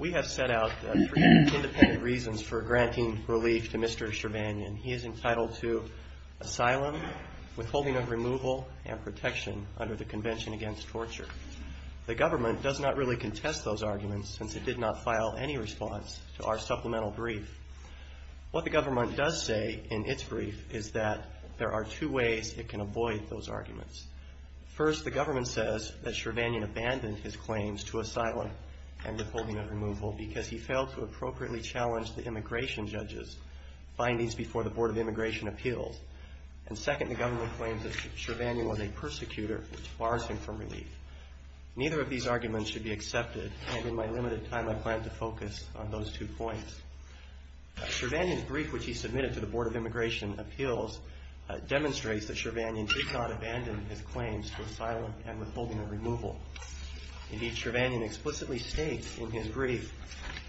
We have set out three independent reasons for granting relief to Mr. Sirvanyan. He is entitled to asylum, withholding of removal, and protection under the Convention Against Torture. The government does not really contest those arguments, since it did not file any final brief. What the government does say in its brief is that there are two ways it can avoid those arguments. First, the government says that Sirvanyan abandoned his claims to asylum and withholding of removal because he failed to appropriately challenge the immigration judges' findings before the Board of Immigration Appeals. And second, the government claims that Sirvanyan was a persecutor, which bars him from relief. Neither of these arguments should be accepted, and in my limited time I plan to focus on those two points. Sirvanyan's brief, which he submitted to the Board of Immigration Appeals, demonstrates that Sirvanyan did not abandon his claims to asylum and withholding of removal. Indeed, Sirvanyan explicitly states in his brief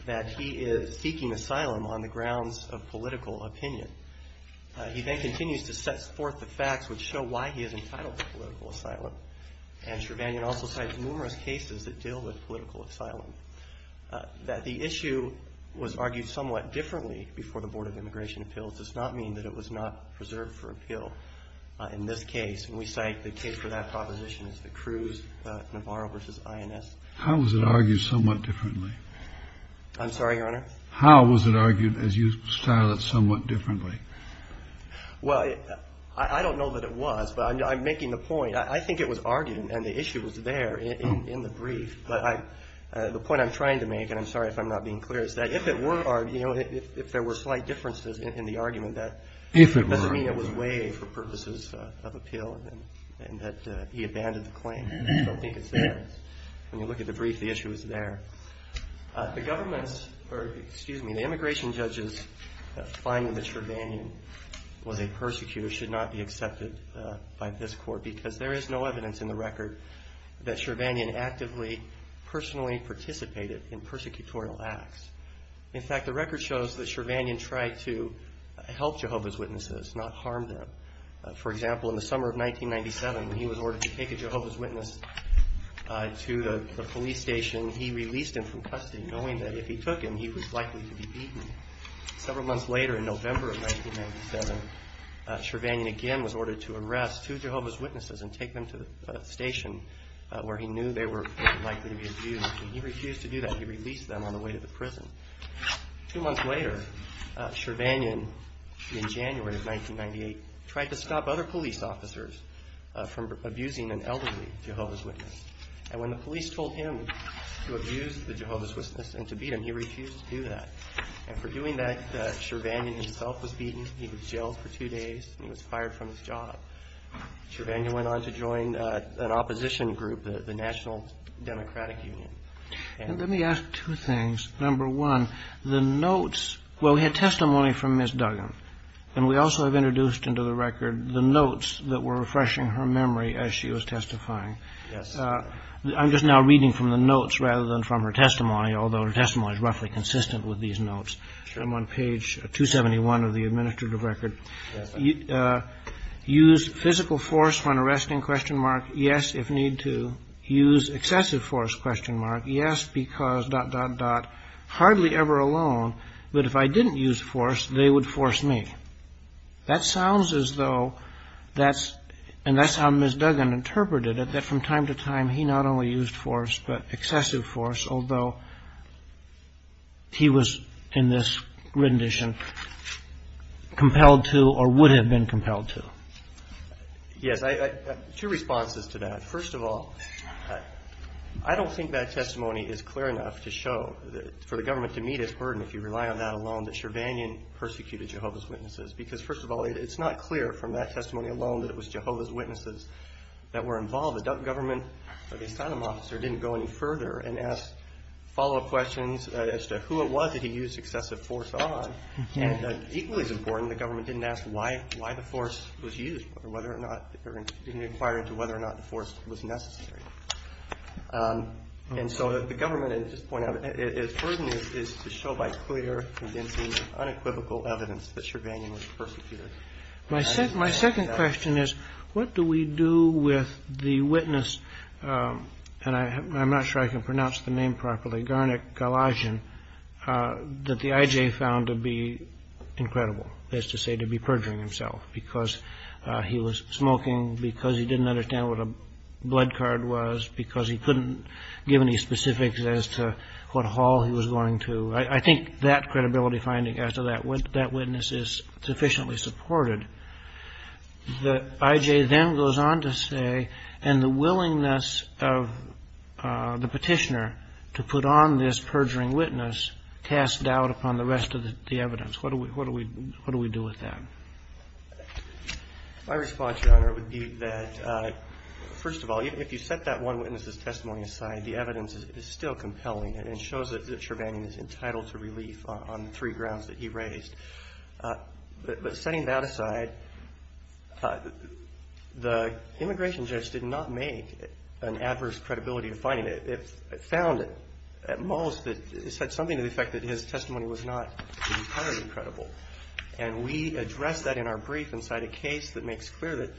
that he is seeking asylum on the grounds of political opinion. He then continues to set forth the facts which show why he is entitled to political asylum. That the issue was argued somewhat differently before the Board of Immigration Appeals does not mean that it was not preserved for appeal in this case. And we cite the case for that proposition as the Cruz-Navarro v. INS. Kennedy. How was it argued somewhat differently? Wessler. I'm sorry, Your Honor? Kennedy. How was it argued, as you style it, somewhat differently? Wessler. Well, I don't know that it was, but I'm making the point. I think it was argued and the issue was there in the brief. But the point I'm trying to make, and I'm sorry if I'm not being clear, is that if it were argued, if there were slight differences in the argument, that doesn't mean it was waived for purposes of appeal and that he abandoned the claim. I don't think it's there. When you look at the brief, the issue is there. The government's, or excuse me, the immigration judge's finding that Sirvanyan was a persecutor should not be accepted by this court, because there is no evidence in the record that Sirvanyan actively, personally participated in persecutorial acts. In fact, the record shows that Sirvanyan tried to help Jehovah's Witnesses, not harm them. For example, in the summer of 1997, when he was ordered to take a Jehovah's Witness to the police station, he released him from custody, knowing that if he took him, he was likely to be beaten. Several months later in November of 1997, Sirvanyan again was ordered to arrest two Jehovah's Witnesses and take them to the station where he knew they were likely to be abused, and he refused to do that. He released them on the way to the prison. Two months later, Sirvanyan, in January of 1998, tried to stop other police officers from abusing an elderly Jehovah's Witness. And when the police told him to abuse the Jehovah's Witness and to beat him, he himself was beaten. He was jailed for two days, and he was fired from his job. Sirvanyan went on to join an opposition group, the National Democratic Union. And let me ask two things. Number one, the notes, well, we had testimony from Ms. Duggan, and we also have introduced into the record the notes that were refreshing her memory as she was testifying. Yes. I'm just now reading from the notes rather than from her testimony, although her testimony is roughly consistent with these notes. I'm on page 271 of the administrative record. Use physical force when arresting? Yes, if need to. Use excessive force? Yes, because dot, dot, dot. Hardly ever alone, but if I didn't use force, they would force me. That sounds as though that's, and that's how Ms. Duggan interpreted it, that from time to time, he not only used force, but excessive force, although he was in this rendition compelled to or would have been compelled to. Yes. Two responses to that. First of all, I don't think that testimony is clear enough to show that for the government to meet its burden, if you rely on that alone, that Sirvanyan persecuted Jehovah's Witnesses. Because first of all, it's not clear from that testimony alone that it was Jehovah's Witnesses that were involved. The government, or the asylum officer, didn't go any further and ask follow-up questions as to who it was that he used excessive force on. And equally as important, the government didn't ask why the force was used, or didn't inquire into whether or not the force was necessary. And so the government, at this point, its burden is to show by clear, convincing, unequivocal evidence that Sirvanyan was persecuted. My second question is, what do we do with the witness, and I'm not sure I can pronounce the name properly, Garnik Galajian, that the IJ found to be incredible, as to say, to be perjuring himself because he was smoking, because he didn't understand what a blood card was, because he couldn't give any specifics as to what hall he was going to. I think that credibility finding, as to that witness, is sufficiently supported. The IJ then goes on to say, and the willingness of the petitioner to put on this perjuring witness casts doubt upon the rest of the evidence. What do we do with that? My response, Your Honor, would be that, first of all, if you set that one witness's testimony aside, the evidence is still compelling and shows that Sirvanyan is entitled to relief on the three grounds that he raised. But setting that aside, the immigration judge did not make an adverse credibility finding. It found, at most, that it said something to the effect that his testimony was not entirely credible. And we addressed that in our brief inside a case that makes clear that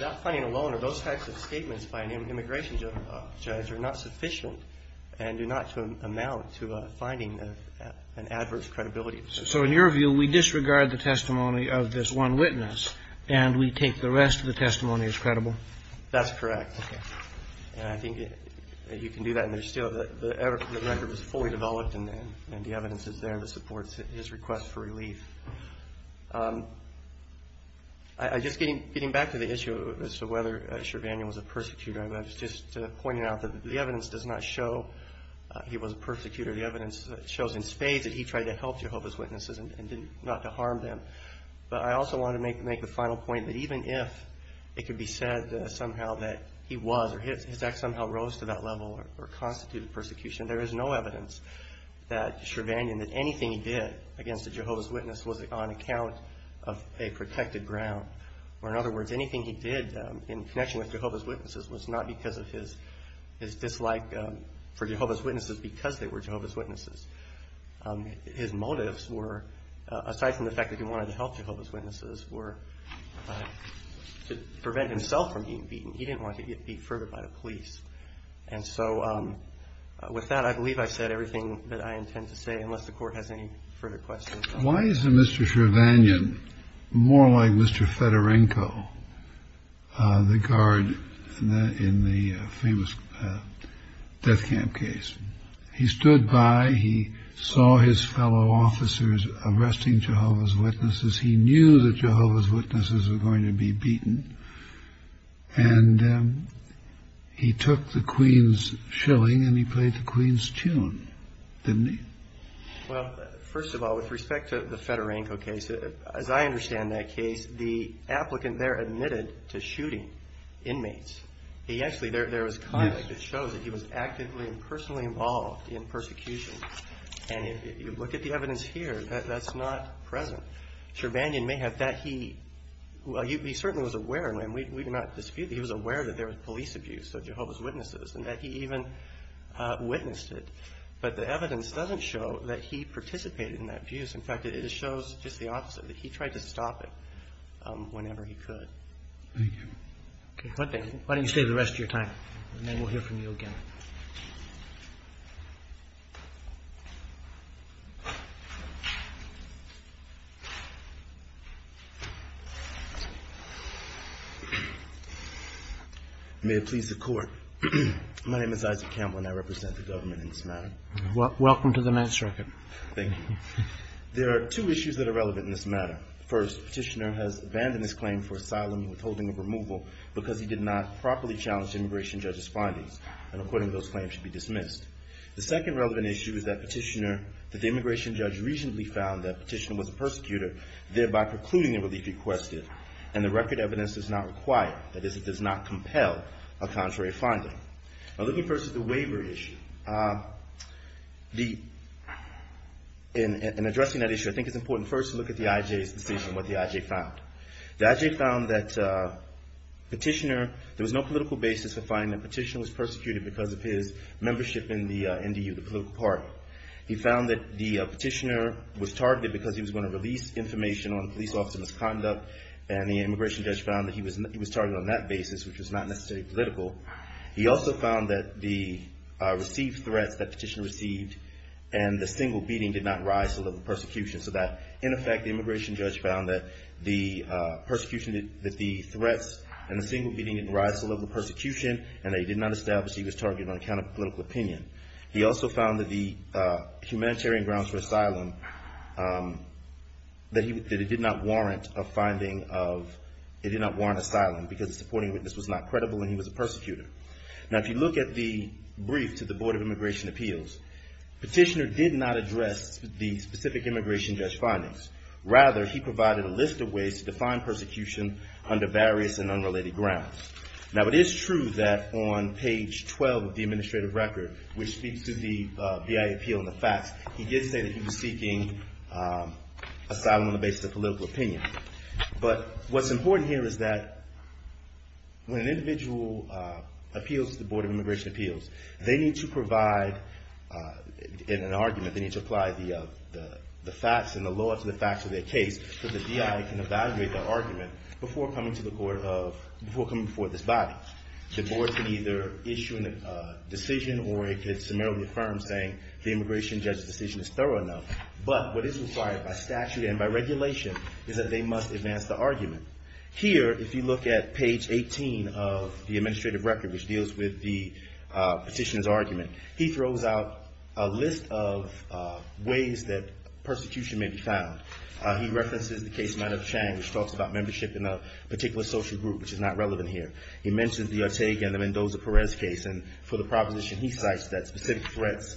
that finding alone, or those types of statements by an immigration judge, are not sufficient and do not amount to finding an adverse credibility. So in your view, we disregard the testimony of this one witness and we take the rest of the testimony as credible? That's correct. And I think you can do that. And there's still the record is fully developed and the evidence is there that supports his request for relief. I just, getting back to the issue as to whether Sirvanyan was a persecutor, I was just pointing out that the evidence does not show he was a persecutor. The evidence shows in spades that he tried to help Jehovah's Witnesses and not to harm them. But I also want to make the final point that even if it could be said somehow that he was, or his act somehow rose to that level or constituted persecution, there is no evidence that Sirvanyan, that anything he did against a Jehovah's Witness was on account of a protected ground. Or in other words, anything he did in connection with Jehovah's Witnesses was not because of his dislike for Jehovah's Witnesses because they were Jehovah's Witnesses. His motives were, aside from the fact that he wanted to help Jehovah's Witnesses, were to prevent himself from being beaten. He didn't want to get beat further by the police. And so with that, I believe I've said everything that I intend to say, unless the Court has any further questions. Why is Mr. Sirvanyan more like Mr. Fedorenko, the guard in the famous death camp case? He stood by, he saw his fellow officers arresting Jehovah's Witnesses, he knew that Jehovah's Witnesses were going to be beaten, and he took the Queen's shilling and he played the Queen's tune, didn't he? Well, first of all, with respect to the Fedorenko case, as I understand that case, the applicant there admitted to shooting inmates. He actually, there was content that shows that he was actively and personally involved in persecution. And if you look at the evidence here, that's not present. Sirvanyan may have that, he certainly was aware, and we do not dispute that he was aware that there was police abuse of Jehovah's Witnesses and that he even witnessed it. But the evidence doesn't show that he participated in that abuse. In fact, it shows just the opposite, that he tried to stop it whenever he could. Thank you. Okay. Why don't you stay for the rest of your time, and then we'll hear from you again. May it please the Court. My name is Isaac Campbell, and I represent the government in this matter. Welcome to the mass record. Thank you. There are two issues that are relevant in this matter. First, the petitioner has abandoned his claim for asylum and withholding of removal because he did not properly challenge the immigration judge's findings, and according to those claims should be dismissed. The second relevant issue is that the immigration judge recently found that the petitioner was a persecutor, thereby precluding the relief requested, and the record evidence does not require, that the waiver issue. In addressing that issue, I think it's important first to look at the IJ's decision, what the IJ found. The IJ found that petitioner, there was no political basis to find that petitioner was persecuted because of his membership in the NDU, the political party. He found that the petitioner was targeted because he was going to release information on police officer misconduct, and the immigration judge found that he was targeted on that basis, which was not necessarily political. He also found that the received threats that petitioner received and the single beating did not rise to the level of persecution, so that in effect the immigration judge found that the persecution, that the threats and the single beating didn't rise to the level of persecution, and that he did not establish he was targeted on account of political opinion. He also found that the humanitarian grounds for asylum, that it did not warrant a finding of, it did not warrant asylum because the supporting witness was not credible and he was a persecutor. Now if you look at the brief to the Board of Immigration Appeals, petitioner did not address the specific immigration judge findings. Rather, he provided a list of ways to define persecution under various and unrelated grounds. Now it is true that on page 12 of the administrative record, which speaks to the BIA appeal and the facts, he did say that he was seeking asylum on the basis of political opinion. But what's important here is that when an individual appeals to the Board of Immigration Appeals, they need to provide, in an argument, they need to apply the facts and the law to the facts of their case so the DI can evaluate their argument before coming to the court of, before coming before this body. The board can either issue a decision or it can summarily affirm saying the immigration judge's decision is thorough enough. But what is required by statute and by regulation is that they must advance the argument. Here, if you look at page 18 of the administrative record, which deals with the petitioner's argument, he throws out a list of ways that persecution may be found. He references the case of Manav Chang, which talks about membership in a particular social group, which is not relevant here. He mentions the Ortega and the Mendoza-Perez case. And for the proposition, he cites that specific threats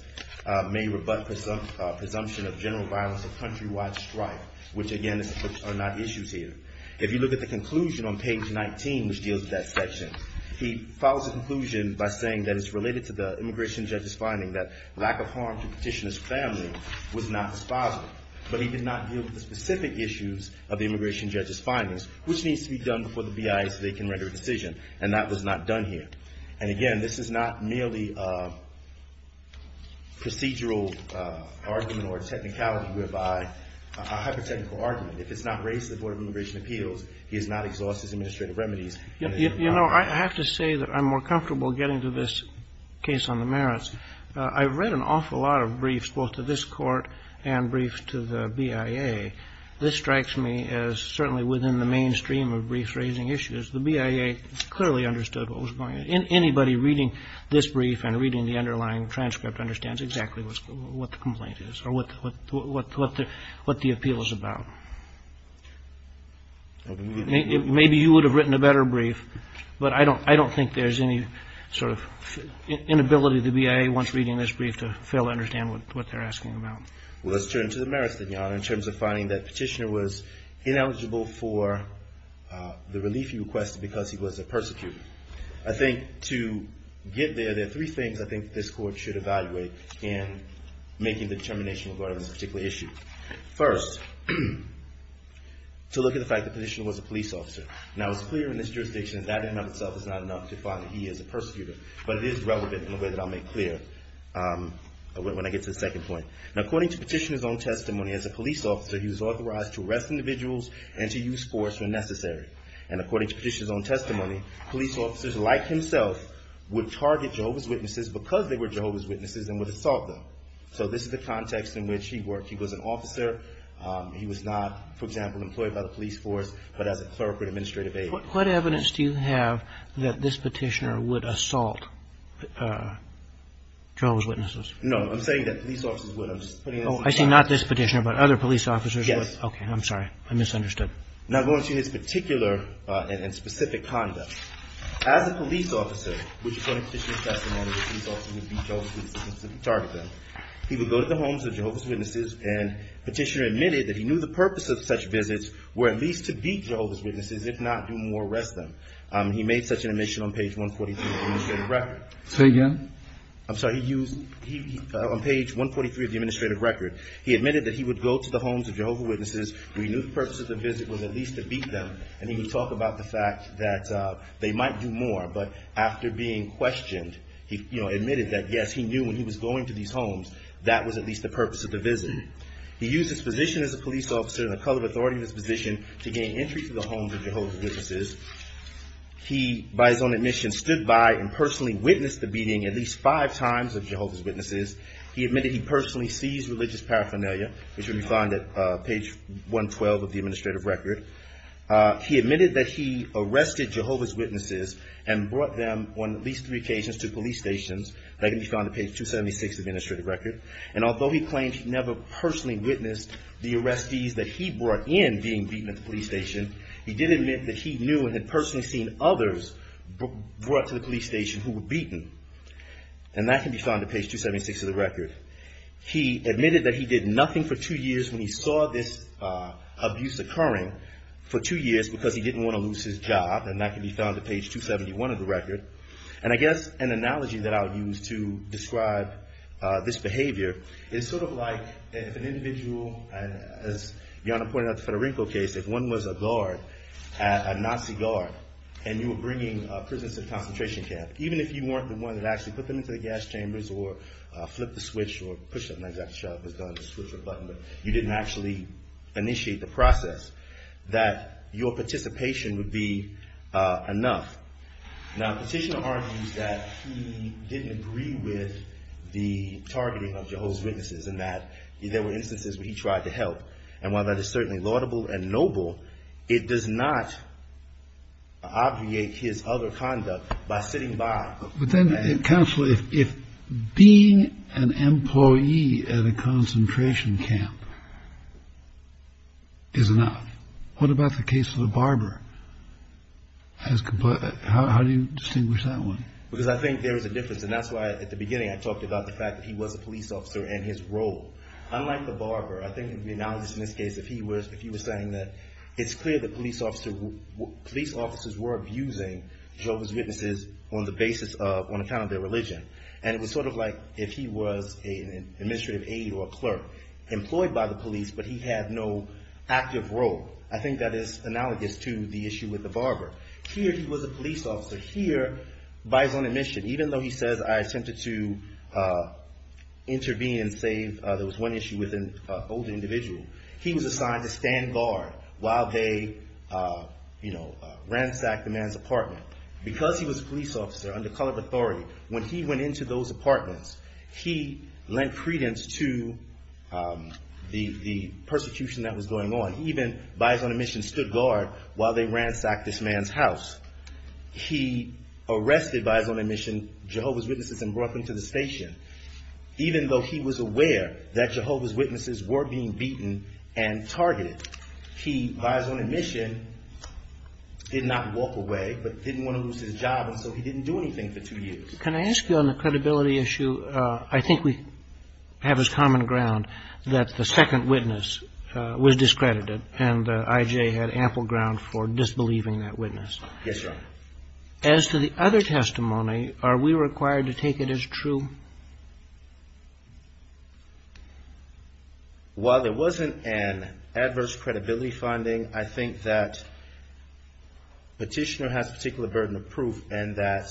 may rebut presumption of general violence or countrywide strife, which again are not issues here. If you look at the conclusion on page 19, which deals with that section, he follows the conclusion by saying that it's related to the immigration judge's finding that lack of harm to the petitioner's family was not his father. But he did not deal with the specific issues of the immigration judge's findings, which needs to be done before the case is not done here. And again, this is not merely a procedural argument or a technicality whereby, a hyper-technical argument. If it's not raised to the Board of Immigration Appeals, he has not exhausted his administrative remedies. You know, I have to say that I'm more comfortable getting to this case on the merits. I've read an awful lot of briefs, both to this Court and briefs to the BIA. This strikes me as certainly within the mainstream of briefs raising issues. The BIA clearly understood what was going on. Anybody reading this brief and reading the underlying transcript understands exactly what the complaint is or what the appeal is about. Maybe you would have written a better brief, but I don't think there's any sort of inability of the BIA, once reading this brief, to fail to understand what they're asking about. Well, let's turn to the merits, then, Your Honor, in terms of finding that Petitioner was ineligible for the relief he requested because he was a persecutor. I think to get there, there are three things I think this Court should evaluate in making the determination regarding this particular issue. First, to look at the fact that Petitioner was a police officer. Now, it's clear in this jurisdiction that in and of itself is not enough to find that he is a persecutor, but it is relevant in a way that I'll make clear when I get to the second point. Now, according to Petitioner's own testimony, as a police officer, he was authorized to arrest individuals and to use force when necessary. And according to Petitioner's own testimony, police officers, like himself, would target Jehovah's Witnesses because they were Jehovah's Witnesses and would assault them. So this is the context in which he worked. He was an officer. He was not, for example, employed by the police force, but as a clerk or administrative aide. What evidence do you have that this Petitioner would assault Jehovah's Witnesses? No, I'm saying that police officers would. I'm just putting this in context. Oh, I see. Not this Petitioner, but other police officers would. Yes. Okay. I'm sorry. I misunderstood. Now, going to his particular and specific conduct, as a police officer, which is according to Petitioner's testimony, police officers would beat Jehovah's Witnesses and target them. He would go to the homes of Jehovah's Witnesses, and Petitioner admitted that he knew the purpose of such visits were at least to beat Jehovah's Witnesses, if not do more, arrest them. He made such an admission on page 143 of the administrative record. Say again? I'm sorry. He used, on page 143 of the administrative record, he admitted that he would go to the homes of Jehovah's Witnesses, where he knew the purpose of the visit was at least to beat them, and he would talk about the fact that they might do more, but after being questioned, he admitted that, yes, he knew when he was going to these homes, that was at least the purpose of the visit. He used his position as a police officer and the color of authority in his position to gain entry to the homes of Jehovah's Witnesses. He, by his own admission, stood by and admitted at least five times of Jehovah's Witnesses. He admitted he personally seized religious paraphernalia, which can be found at page 112 of the administrative record. He admitted that he arrested Jehovah's Witnesses and brought them on at least three occasions to police stations, and that can be found at page 276 of the administrative record. And although he claimed he never personally witnessed the arrestees that he brought in being beaten at the police station, he did admit that he knew and had personally seen others brought to the police station who were beaten, and that can be found at page 276 of the record. He admitted that he did nothing for two years when he saw this abuse occurring for two years because he didn't want to lose his job, and that can be found at page 271 of the record. And I guess an analogy that I would use to describe this behavior is sort of like if an individual, as Jana pointed out in the Federinko case, if one was a guard, a Nazi guard, and you were bringing prisoners to a concentration camp, even if you weren't the one that actually put them into the gas chambers or flipped the switch or pushed something like that, shoved a switch or a button, but you didn't actually initiate the process, that your participation would be enough. Now, Petitioner argues that he didn't agree with the targeting of Jehovah's Witnesses and that there were instances where he tried to help. And while that is certainly laudable and noble, it does not obviate his other conduct by sitting by. But then, Counselor, if being an employee at a concentration camp is enough, what about the case of the barber? How do you distinguish that one? Because I think there is a difference, and that's why at the beginning I talked about the fact that he was a police officer and his role. Unlike the barber, I think it would be analogous in this case if he was saying that it's clear that police officers were abusing Jehovah's Witnesses on the basis of, on account of their religion. And it was sort of like if he was an administrative aide or a clerk employed by the police, but he had no active role. I think that is analogous to the issue with the barber. Here, he was a police officer. Here, by his own admission, even though he says, I attempted to intervene and save, there was one issue with an older individual, he was assigned to stand guard while they ransacked the man's apartment. Because he was a police officer under colored authority, when he went into those apartments, he lent credence to the persecution that was going on. He even, by his own admission, stood guard while they ransacked this man's house. He arrested, by his own admission, Jehovah's Witnesses and brought them to the station. Even though he was aware that Jehovah's Witnesses were being beaten and targeted, he, by his own admission, did not walk away, but didn't want to lose his job, and so he didn't do anything for two years. Can I ask you on the credibility issue? I think we have as common ground that the second witness was discredited, and I.J. had ample ground for disbelieving that witness. Yes, Your Honor. As to the other testimony, are we required to take it as true? While there wasn't an adverse credibility finding, I think that Petitioner has a particular burden of proof, and that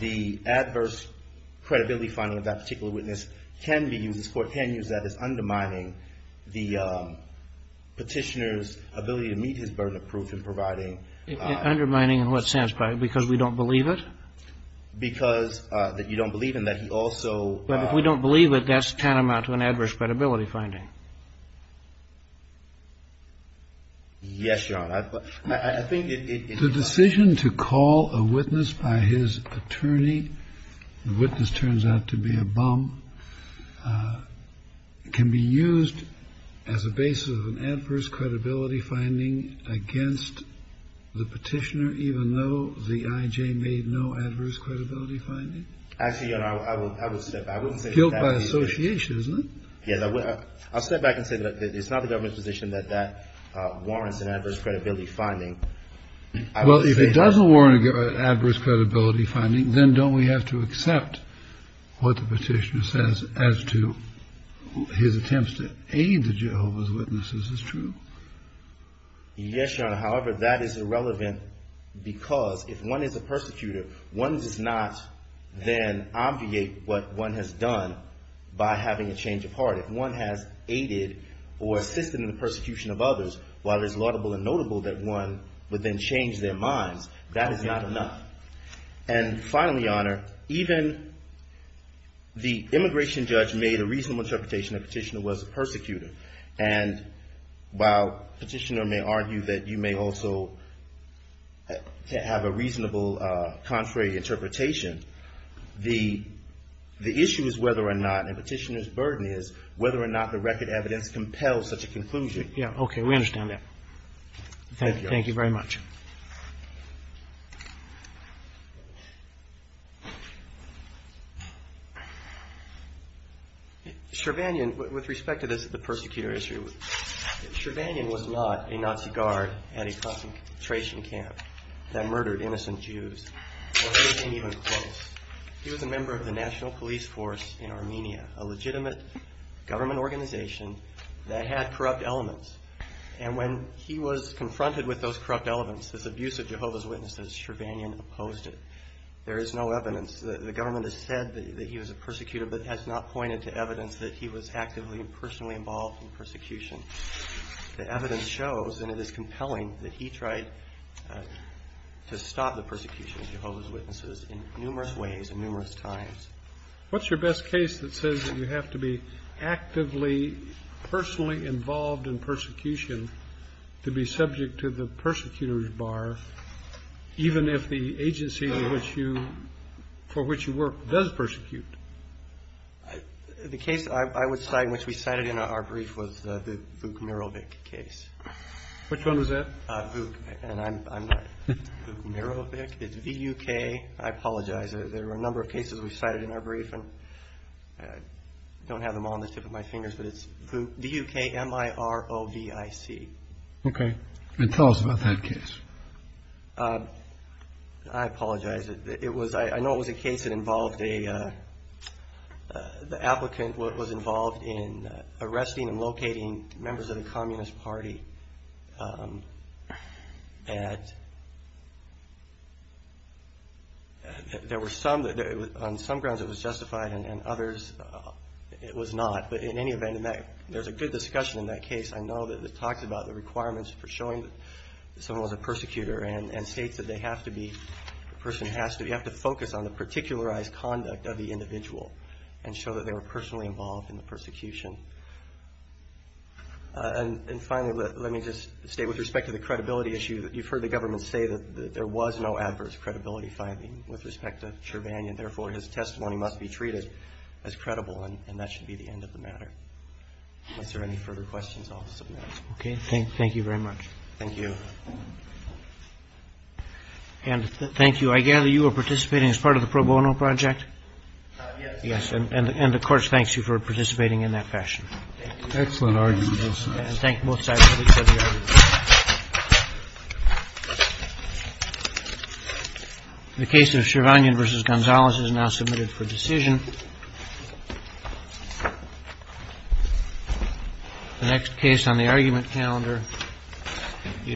the adverse credibility finding of that particular witness can be used, this Court can use that as undermining the Petitioner's ability to meet his burden of proof in providing. Undermining in what sense? Because we don't believe it? Because you don't believe in that he also. But if we don't believe it, that's tantamount to an adverse credibility finding. Yes, Your Honor. I think it. The decision to call a witness by his attorney, the witness turns out to be a bum, can be the Petitioner, even though the I.J. made no adverse credibility finding? Actually, Your Honor, I would step back. I wouldn't say that. Guilt by association, isn't it? Yes, I'll step back and say that it's not the government's position that that warrants an adverse credibility finding. Well, if it doesn't warrant an adverse credibility finding, then don't we have to accept what the Petitioner says as to his attempts to aid the Jehovah's Witnesses? Is this true? Yes, Your Honor. However, that is irrelevant because if one is a persecutor, one does not then obviate what one has done by having a change of heart. If one has aided or assisted in the persecution of others, while it is laudable and notable that one would then change their minds, that is not enough. And finally, Your Honor, even the immigration judge made a reasonable interpretation that the Petitioner was a persecutor. And while the Petitioner may argue that you may also have a reasonable contrary interpretation, the issue is whether or not, and the Petitioner's burden is, whether or not the record evidence compels such a conclusion. Yeah, okay, we understand that. Thank you very much. Shirvanian, with respect to this, the persecutor issue, Shirvanian was not a Nazi guard at a concentration camp that murdered innocent Jews, or anything even close. He was a member of the National Police Force in Armenia, a legitimate government organization that had corrupt elements. And when he was confronted with those corrupt elements, this abuse of Jehovah's Witnesses, Shirvanian opposed it. There is no evidence. The government has said that he was a persecutor, but has not pointed to evidence that he was actively and personally involved in persecution. The evidence shows, and it is compelling, that he tried to stop the persecution of Jehovah's Witnesses in numerous ways and numerous times. What's your best case that says that you have to be actively, personally involved in persecution to be subject to the persecutor's bar, even if the agency for which you work does persecute? The case I would cite, which we cited in our brief, was the Vuk Mirovic case. Which one was that? Vuk, and I'm not Vuk Mirovic. It's V-U-K. I apologize. There were a number of cases we cited in our brief, and I don't have them all on the tip of my fingers, but it's V-U-K-M-I-R-O-V-I-C. Okay. And tell us about that case. I apologize. It was, I know it was a case that involved a, the applicant was involved in arresting and locating members of the Communist Party. And there were some, on some grounds it was justified, and others it was not. But in any event, there's a good discussion in that case. I know that it talks about the requirements for showing that someone was a persecutor and states that they have to be, the person has to, you have to focus on the particularized conduct of the individual and show that they were personally involved in the persecution. And finally, let me just state with respect to the credibility issue, you've heard the government say that there was no adverse credibility finding with respect to Cherbanion, therefore, his testimony must be treated as credible, and that should be the end of the matter. Unless there are any further questions, I'll submit them. Okay, thank you very much. Thank you. And thank you, I gather you were participating as part of the pro bono project? Yes. Yes, and of course, thanks you for participating in that fashion. Excellent argument. Thank both sides. The case of Cherbanion versus Gonzalez is now submitted for decision. The next case on the argument calendar.